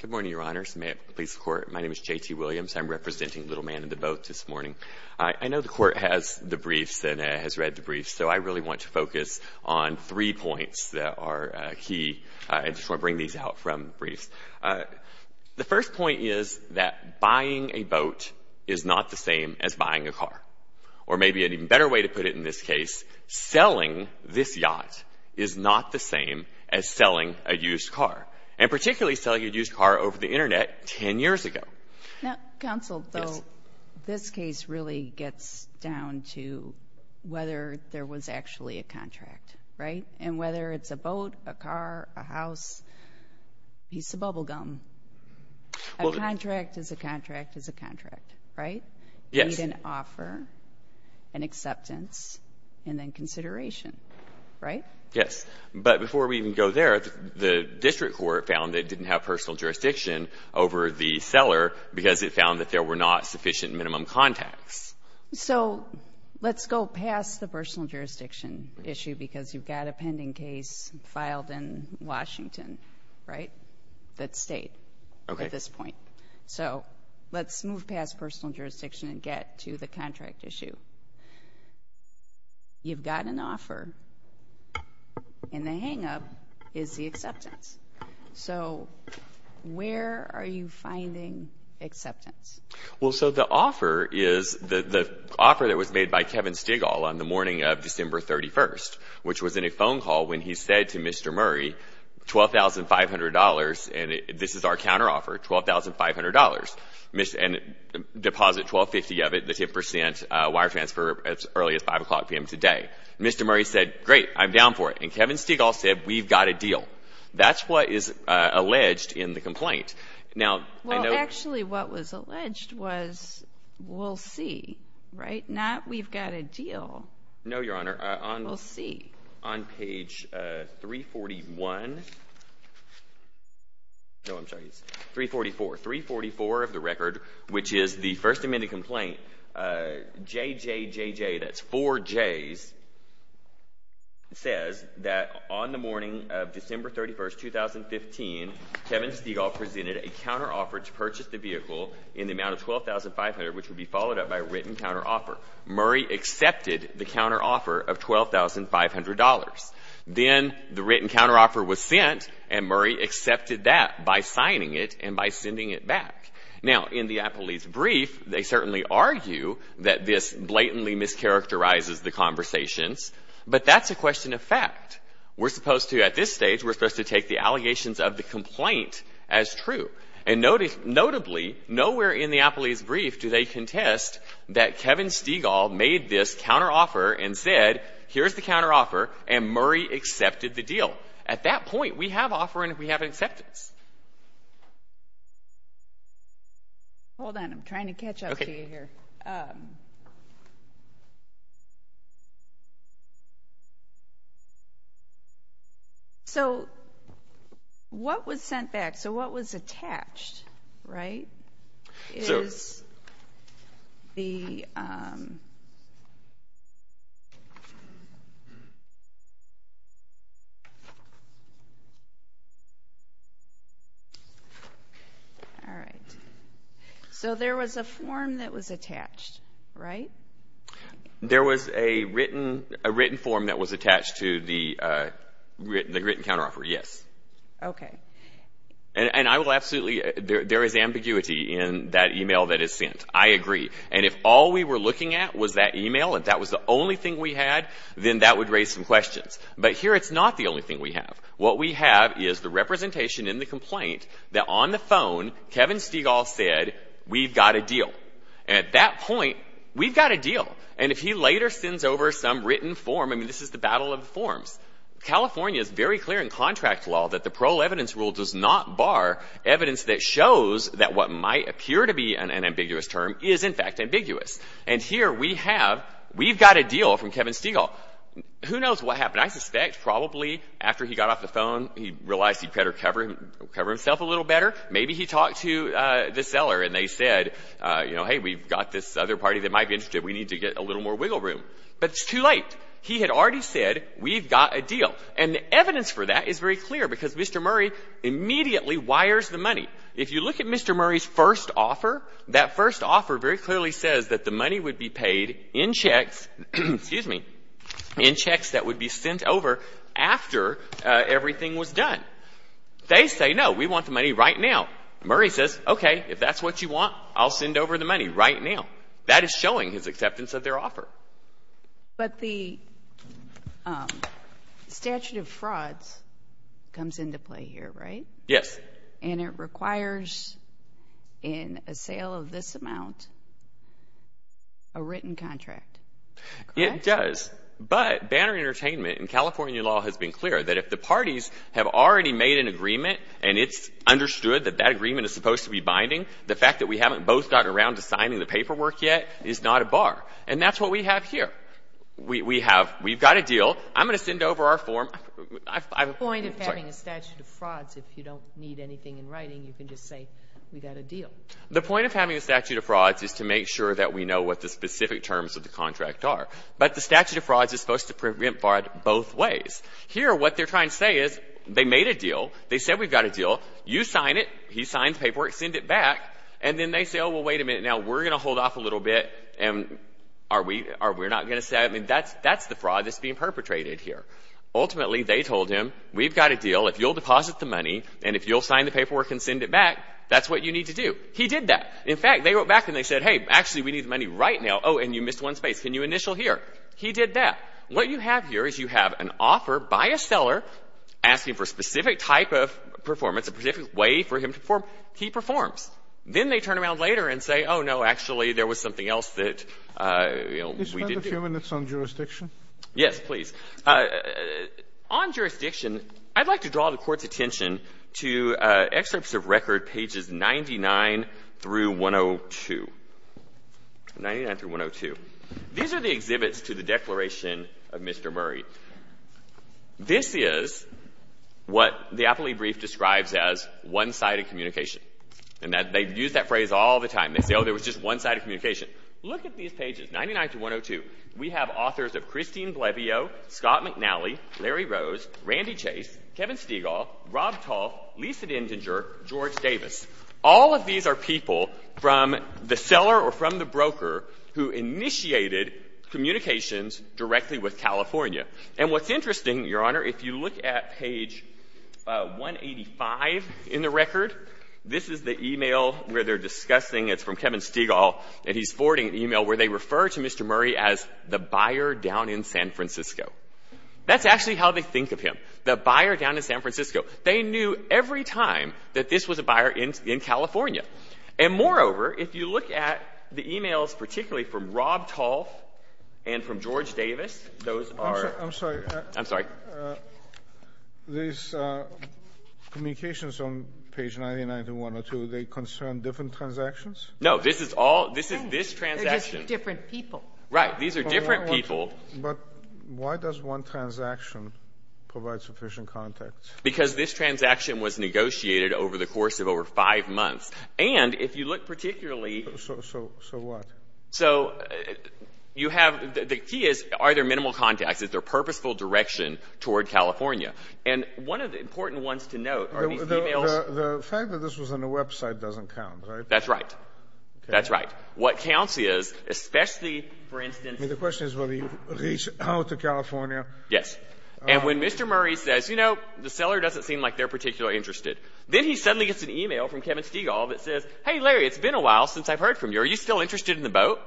Good morning, Your Honors. May it please the Court, my name is J.T. Williams. I'm representing Little Man in the Boat this morning. I know the Court has the briefs and has read the briefs, so I really want to focus on three points that are key. I just want to bring these out from briefs. The first point is that buying a boat is not the same as buying a car. Or maybe an even better way to put it in this case, selling this yacht is not the same as selling a used car, and particularly selling a used car over the Internet 10 years ago. Now, counsel, though, this case really gets down to whether there was actually a contract, right? And whether it's a boat, a car, a house, piece of bubble gum. A contract is a contract is a contract, right? You need an offer, an acceptance, and then consideration, right? Yes. But before we even go there, the district court found it didn't have personal jurisdiction over the seller because it found that there were not sufficient minimum contacts. So let's go past the personal jurisdiction issue because you've got a pending case filed in Washington, right, that's state at this point. So let's move past personal jurisdiction and get to the contract issue. You've got an offer, and the hang-up is the acceptance. So where are you finding acceptance? Well, so the offer is the offer that was made by Kevin Stigall on the morning of December 31st, which was in a phone call when he said to Mr. Murray, $12,500, and this is our counteroffer, $12,500, and deposit $1250 of it, the 10% wire transfer, as early as 5 o'clock p.m. today. Mr. Murray said, great, I'm down for it. And Kevin Stigall said, we've got a deal. That's what is alleged in the complaint. Well, actually, what was alleged was, we'll see, right? Not, we've got a deal. No, Your Honor. We'll see. On page 341, no, I'm sorry, 344, 344 of the record, which is the First Amendment complaint, JJJJ, that's four J's, says that on the morning of December 31st, 2015, Kevin Stigall presented a counteroffer to purchase the vehicle in the amount of $12,500, which would be followed up by a written counteroffer. Murray accepted the counteroffer of $12,500. Then the written counteroffer was sent, and Murray accepted that by signing it and by sending it back. Now, in the Applebee's brief, they certainly argue that this blatantly mischaracterizes the conversations, but that's a question of fact. We're supposed to, at this stage, we're supposed to take the allegations of the complaint as true. And notably, nowhere in the Applebee's brief do they contest that Kevin Stigall made this counteroffer and said, here's the counteroffer, and Murray accepted the deal. At that point, we have an offer and we have an acceptance. Hold on. I'm trying to catch up to you here. So what was sent back, so what was attached, right, is the written counteroffer. All right. So there was a form that was attached, right? There was a written form that was attached to the written counteroffer, yes. Okay. And I will absolutely, there is ambiguity in that email that is sent. I agree. And if all we were looking at was that email, if that was the only thing we had, then that would raise some questions. But here it's not the only thing we have. What we have is the representation in the complaint that on the phone, Kevin Stigall said, we've got a deal. And at that point, we've got a deal. And if he later sends over some written form, I mean, this is the battle of the forms. California is very clear in contract law that the parole evidence rule does not bar evidence that shows that what might appear to be an ambiguous term is, in fact, ambiguous. And here we have, we've got a deal from Kevin Stigall. Who knows what happened. I suspect probably after he got off the phone, he realized he'd better cover himself a little better. Maybe he talked to the seller and they said, you know, hey, we've got this other party that might be interested. We need to get a little more wiggle room. But it's too late. He had already said, we've got a deal. And the evidence for that is very clear because Mr. Murray immediately wires the money. If you look at Mr. Murray's first offer, that first offer very clearly says that the money would be paid in checks, excuse me, in checks that would be sent over after everything was done. They say, no, we want the money right now. Murray says, okay, if that's what you want, I'll send over the money right now. That is showing his acceptance of their offer. But the statute of frauds comes into play here, right? Yes. And it requires, in a sale of this amount, a written contract. It does. But Banner Entertainment and California law has been clear that if the parties have already made an agreement and it's understood that that agreement is supposed to be binding, the fact that we haven't both gotten around to signing the paperwork yet is not a bar. And that's what we have here. We have, we've got a deal. I'm going to send over our form. I'm sorry. The point of having a statute of frauds, if you don't need anything in writing, you can just say we've got a deal. The point of having a statute of frauds is to make sure that we know what the specific terms of the contract are. But the statute of frauds is supposed to prevent fraud both ways. Here, what they're trying to say is, they made a deal, they said we've got a deal, you sign it, he signs paperwork, send it back. And then they say, oh, well, wait a minute. Now we're going to hold off a little bit. And are we, are we're not going to say, I mean, that's, that's the fraud that's being perpetrated here. Ultimately, they told him, we've got a deal. If you'll deposit the money, and if you'll sign the paperwork and send it back, that's what you need to do. He did that. In fact, they wrote back and they said, hey, actually, we need the money right now. Oh, and you missed one space. Can you initial here? He did that. What you have here is you have an exception. He performs. Then they turn around later and say, oh, no, actually, there was something else that, you know, we didn't do. Sotomayor, did you spend a few minutes on jurisdiction? Yes, please. On jurisdiction, I'd like to draw the Court's attention to excerpts of record pages 99 through 102. 99 through 102. These are the exhibits to the Declaration of Independence. This is what the appellee brief describes as one-sided communication. And that they use that phrase all the time. They say, oh, there was just one-sided communication. Look at these pages, 99 through 102. We have authors of Christine Blevio, Scott McNally, Larry Rose, Randy Chase, Kevin Stegall, Rob Tolf, Lisa Dintinger, George Davis. All of these are people from the seller or from the broker who initiated communications directly with California. And what's interesting, Your Honor, if you look at page 185 in the record, this is the e-mail where they're discussing. It's from Kevin Stegall, and he's forwarding an e-mail where they refer to Mr. Murray as the buyer down in San Francisco. That's actually how they think of him, the buyer down in San Francisco. They knew every time that this was a buyer in California. And moreover, if you look at the e-mails, particularly from Rob Tolf and from George Davis, those are... I'm sorry. I'm sorry. These communications on page 99 through 102, they concern different transactions? No. This is all, this is this transaction. They're just two different people. Right. These are different people. But why does one transaction provide sufficient context? Because this transaction was negotiated over the course of over five months. And if you look particularly... So what? So you have, the key is, are there minimal contacts? Is there purposeful direction toward California? And one of the important ones to note are these e-mails... The fact that this was on a website doesn't count, right? That's right. That's right. What counts is, especially, for instance... I mean, the question is whether you reach out to California. Yes. And when Mr. Murray says, you know, the seller doesn't seem like they're particularly interested, then he suddenly gets an e-mail from Kevin Stegall that says, hey, Larry, it's been a while since I've heard from you. Are you still interested in the boat?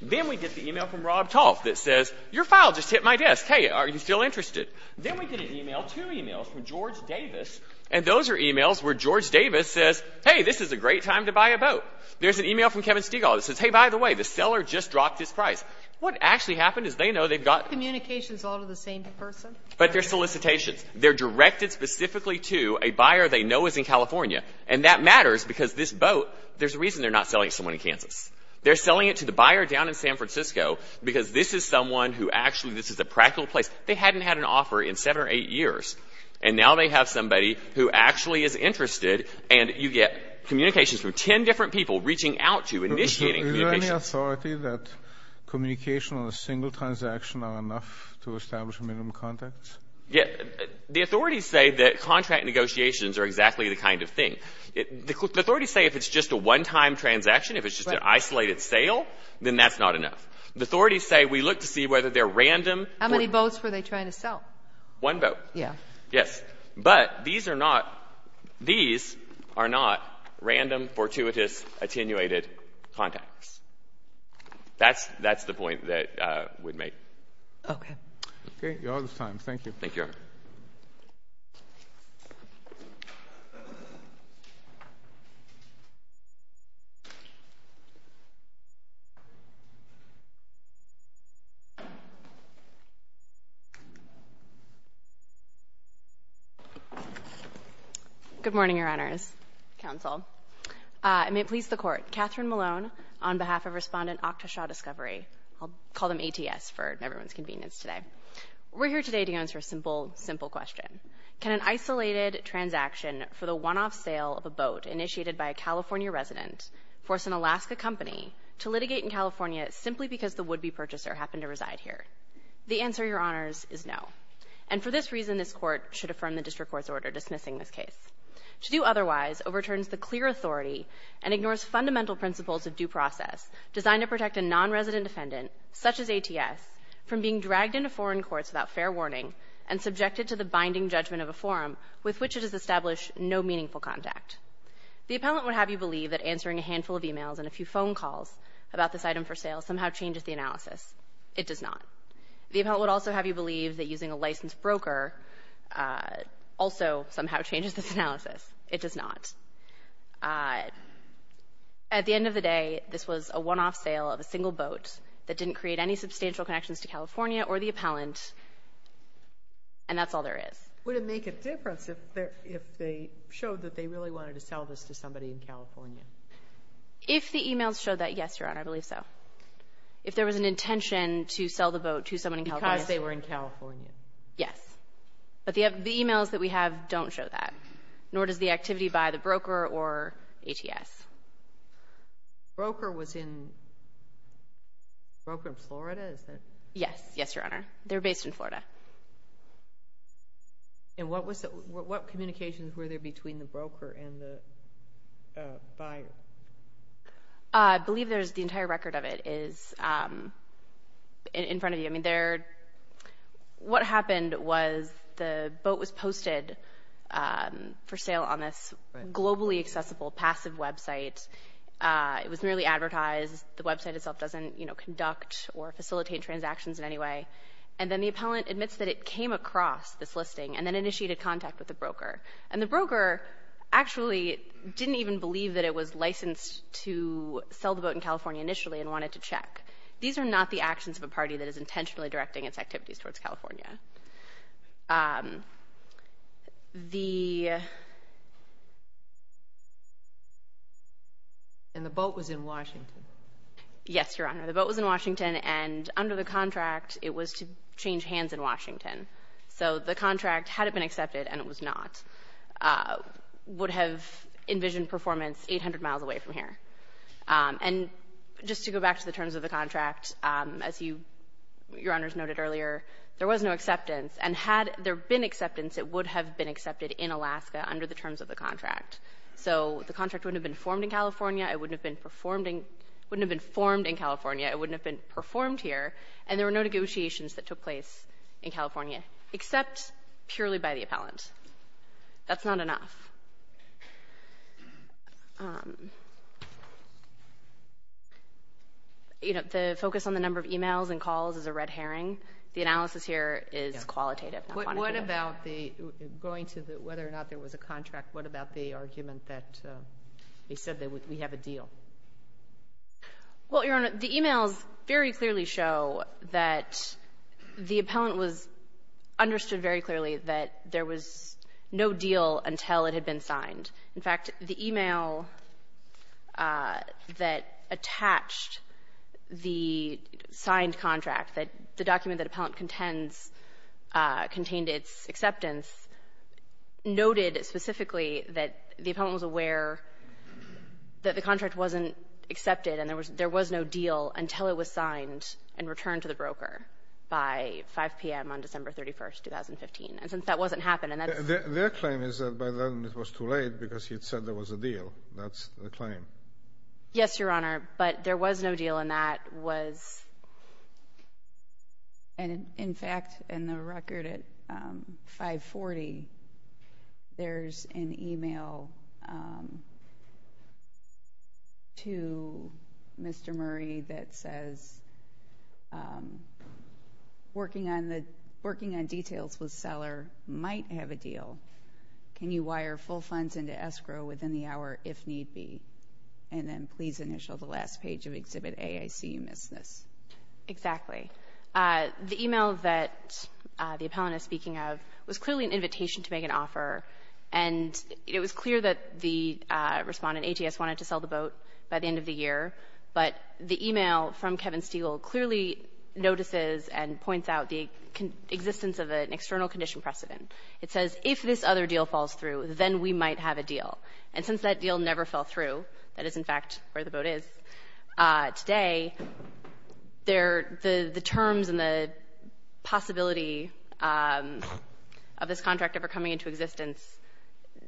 Then we get the e-mail from Rob Tolf that says, your file just hit my desk. Hey, are you still interested? Then we get an e-mail, two e-mails from George Davis, and those are e-mails where George Davis says, hey, this is a great time to buy a boat. There's an e-mail from Kevin Stegall that says, hey, by the way, the seller just dropped his price. What actually happened is they know they've got... Communications all to the same person? But they're solicitations. They're directed specifically to a buyer they know is in California, and that matters because this boat... There's a reason they're not selling it to someone in Kansas. They're selling it to the buyer down in San Francisco because this is someone who actually... This is a practical place. They hadn't had an offer in seven or eight years, and now they have somebody who actually is interested, and you get communications from 10 different people reaching out to, initiating... Is there any authority that communication on a single transaction are enough to The authorities say that contract negotiations are exactly the kind of thing. The authorities say if it's just a one-time transaction, if it's just an isolated sale, then that's not enough. The authorities say we look to see whether they're random... How many boats were they trying to sell? One boat. Yeah. Yes. But these are not random, fortuitous, attenuated contacts. That's the point that we'd make. Okay. Okay. You're out of time. Thank you. Thank you, Your Honor. Good morning, Your Honors, Counsel. I may please the Court. Catherine Malone on behalf of Respondent Octoshaw Discovery. I'll call them ATS for everyone's convenience today. We're here today to answer a simple, simple question. Can an isolated transaction for the one-off sale of a boat initiated by a California resident force an Alaska company to litigate in California simply because the would-be purchaser happened to reside here? The answer, Your Honors, is no. And for this reason, this Court should affirm the District Court's order dismissing this case. To do otherwise overturns the clear authority and ignores fundamental principles of due such as ATS from being dragged into foreign courts without fair warning and subjected to the binding judgment of a forum with which it has established no meaningful contact. The appellant would have you believe that answering a handful of emails and a few phone calls about this item for sale somehow changes the analysis. It does not. The appellant would also have you believe that using a licensed broker also somehow changes this analysis. It does not. Uh, at the end of the day, this was a one-off sale of a single boat that didn't create any substantial connections to California or the appellant. And that's all there is. Would it make a difference if they showed that they really wanted to sell this to somebody in California? If the emails showed that, yes, Your Honor, I believe so. If there was an intention to sell the boat to someone in California. Because they were in California. Yes. But the emails that we have don't show that. Nor does the activity by the broker or ATS. Broker was in, broker in Florida, is that? Yes. Yes, Your Honor. They're based in Florida. And what was the, what communications were there between the broker and the buyer? Uh, I believe there's the entire record of it is, um, in front of you. There, what happened was the boat was posted, um, for sale on this globally accessible, passive website. Uh, it was merely advertised. The website itself doesn't, you know, conduct or facilitate transactions in any way. And then the appellant admits that it came across this listing and then initiated contact with the broker. And the broker actually didn't even believe that it was licensed to sell the boat in California initially and wanted to check. These are not the actions of a party that is intentionally directing its activities towards California. Um, the. And the boat was in Washington? Yes, Your Honor. The boat was in Washington. And under the contract, it was to change hands in Washington. So the contract, had it been accepted, and it was not, uh, would have envisioned performance 800 miles away from here. And just to go back to the terms of the contract, um, as you, Your Honor's noted earlier, there was no acceptance. And had there been acceptance, it would have been accepted in Alaska under the terms of the contract. So the contract wouldn't have been formed in California. It wouldn't have been performed in, wouldn't have been formed in California. It wouldn't have been performed here. And there were no negotiations that took place in California, except purely by the appellant. That's not enough. Um, you know, the focus on the number of emails and calls is a red herring. The analysis here is qualitative, not quantitative. What about the, going to the, whether or not there was a contract, what about the argument that, uh, they said that we have a deal? Well, Your Honor, the emails very clearly show that the appellant was understood very clearly that there was no deal until it had been signed. In fact, the email, uh, that attached the signed contract, the document that appellant contends, uh, contained its acceptance, noted specifically that the appellant was aware that the contract wasn't accepted and there was no deal until it was signed and returned to the broker by 5 p.m. on December 31st, 2015. And since that wasn't happening, that's... Their claim is that by then it was too late because he'd said there was a deal. That's the claim. Yes, Your Honor. But there was no deal and that was... And in fact, in the record at, um, 540, there's an email, um, to Mr. Murray that says, um, working on the... Working on details with seller might have a deal. Can you wire full funds into escrow within the hour if need be? And then please initial the last page of Exhibit A. I see you missed this. Exactly. The email that, uh, the appellant is speaking of was clearly an invitation to make an offer. And it was clear that the, uh, respondent, ATS, wanted to sell the boat by the end of the year. But the email from Kevin Stegall clearly notices and points out the existence of an external condition precedent. It says, if this other deal falls through, then we might have a deal. And since that deal never fell through, that is, in fact, where the boat is, uh, today, there... The terms and the possibility, um, of this contract ever coming into existence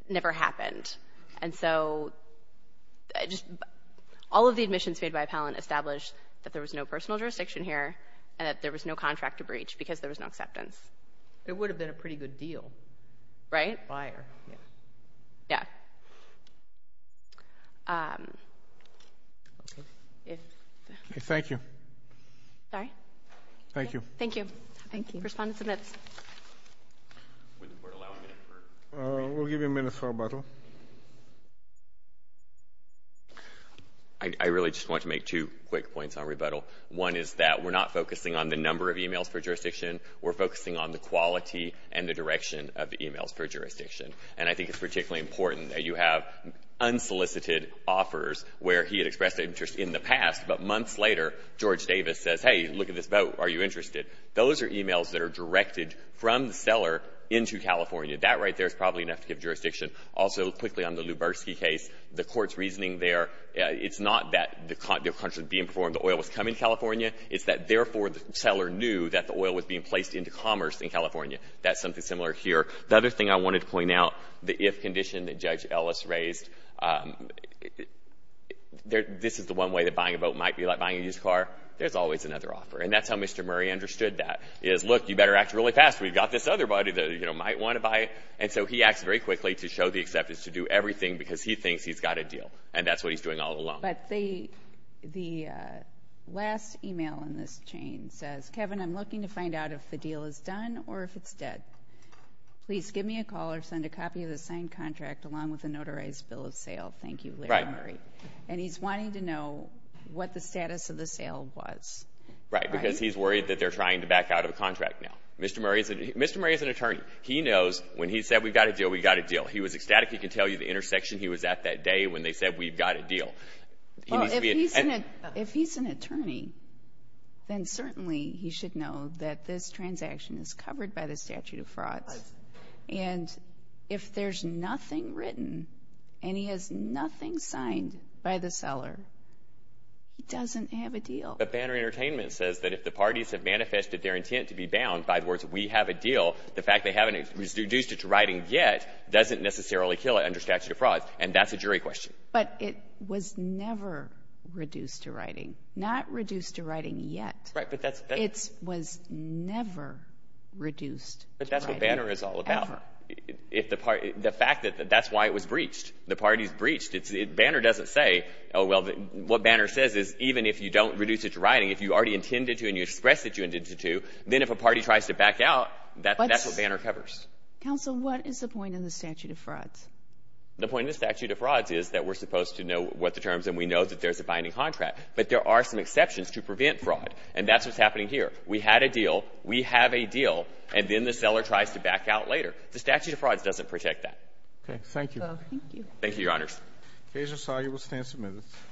never happened. And so, I just... All of the admissions made by appellant established that there was no personal jurisdiction here and that there was no contract to breach because there was no acceptance. It would have been a pretty good deal. Right? Wire. Yeah. Yeah. Um... Thank you. Sorry? Thank you. Thank you. Thank you. Respondent submits. We'll give you a minute for rebuttal. I... I really just want to make two quick points on rebuttal. One is that we're not focusing on the number of emails for jurisdiction. We're focusing on the quality and the direction of the emails for jurisdiction. And I think it's particularly important that you have unsolicited offers where he had expressed interest in the past, but months later, George Davis says, hey, look at this boat. Are you interested? Those are emails that are directed from the seller into California. That right there is probably enough to give jurisdiction. Also, quickly on the Luberski case, the court's reasoning there, it's not that the contract was being performed, the oil was coming to California. It's that therefore the seller knew that the oil was being placed into commerce in California. That's something similar here. The other thing I wanted to point out, the if condition that Judge Ellis raised, this is the one way that buying a boat might be like buying a used car. There's always another offer. And that's how Mr. Murray understood that, is, look, you better act really fast. We've got this other body that, you know, might want to buy it. So he acts very quickly to show the acceptance to do everything because he thinks he's got a deal. And that's what he's doing all along. But the last email in this chain says, Kevin, I'm looking to find out if the deal is done or if it's dead. Please give me a call or send a copy of the signed contract along with a notarized bill of sale. Thank you, Larry Murray. And he's wanting to know what the status of the sale was. Right. Because he's worried that they're trying to back out of a contract now. Mr. Murray is an attorney. He knows when he said, we've got a deal, we've got a deal. He was ecstatic. He can tell you the intersection he was at that day when they said, we've got a deal. If he's an attorney, then certainly he should know that this transaction is covered by the statute of frauds. And if there's nothing written and he has nothing signed by the seller, he doesn't have a deal. But Banner Entertainment says that if the parties have manifested their intent to be reduced to writing yet, doesn't necessarily kill it under statute of frauds. And that's a jury question. But it was never reduced to writing. Not reduced to writing yet. Right. But that's. It was never reduced. But that's what Banner is all about. If the party, the fact that that's why it was breached. The party's breached. Banner doesn't say, oh, well, what Banner says is even if you don't reduce it to writing, if you already intended to and you express that you intended to, then if a party tries to back out, that's what Banner covers. Counsel, what is the point in the statute of frauds? The point of the statute of frauds is that we're supposed to know what the terms and we know that there's a binding contract. But there are some exceptions to prevent fraud. And that's what's happening here. We had a deal. We have a deal. And then the seller tries to back out later. The statute of frauds doesn't protect that. Okay. Thank you. Thank you. Thank you, Your Honors. Kajal Sagi will stand submitted.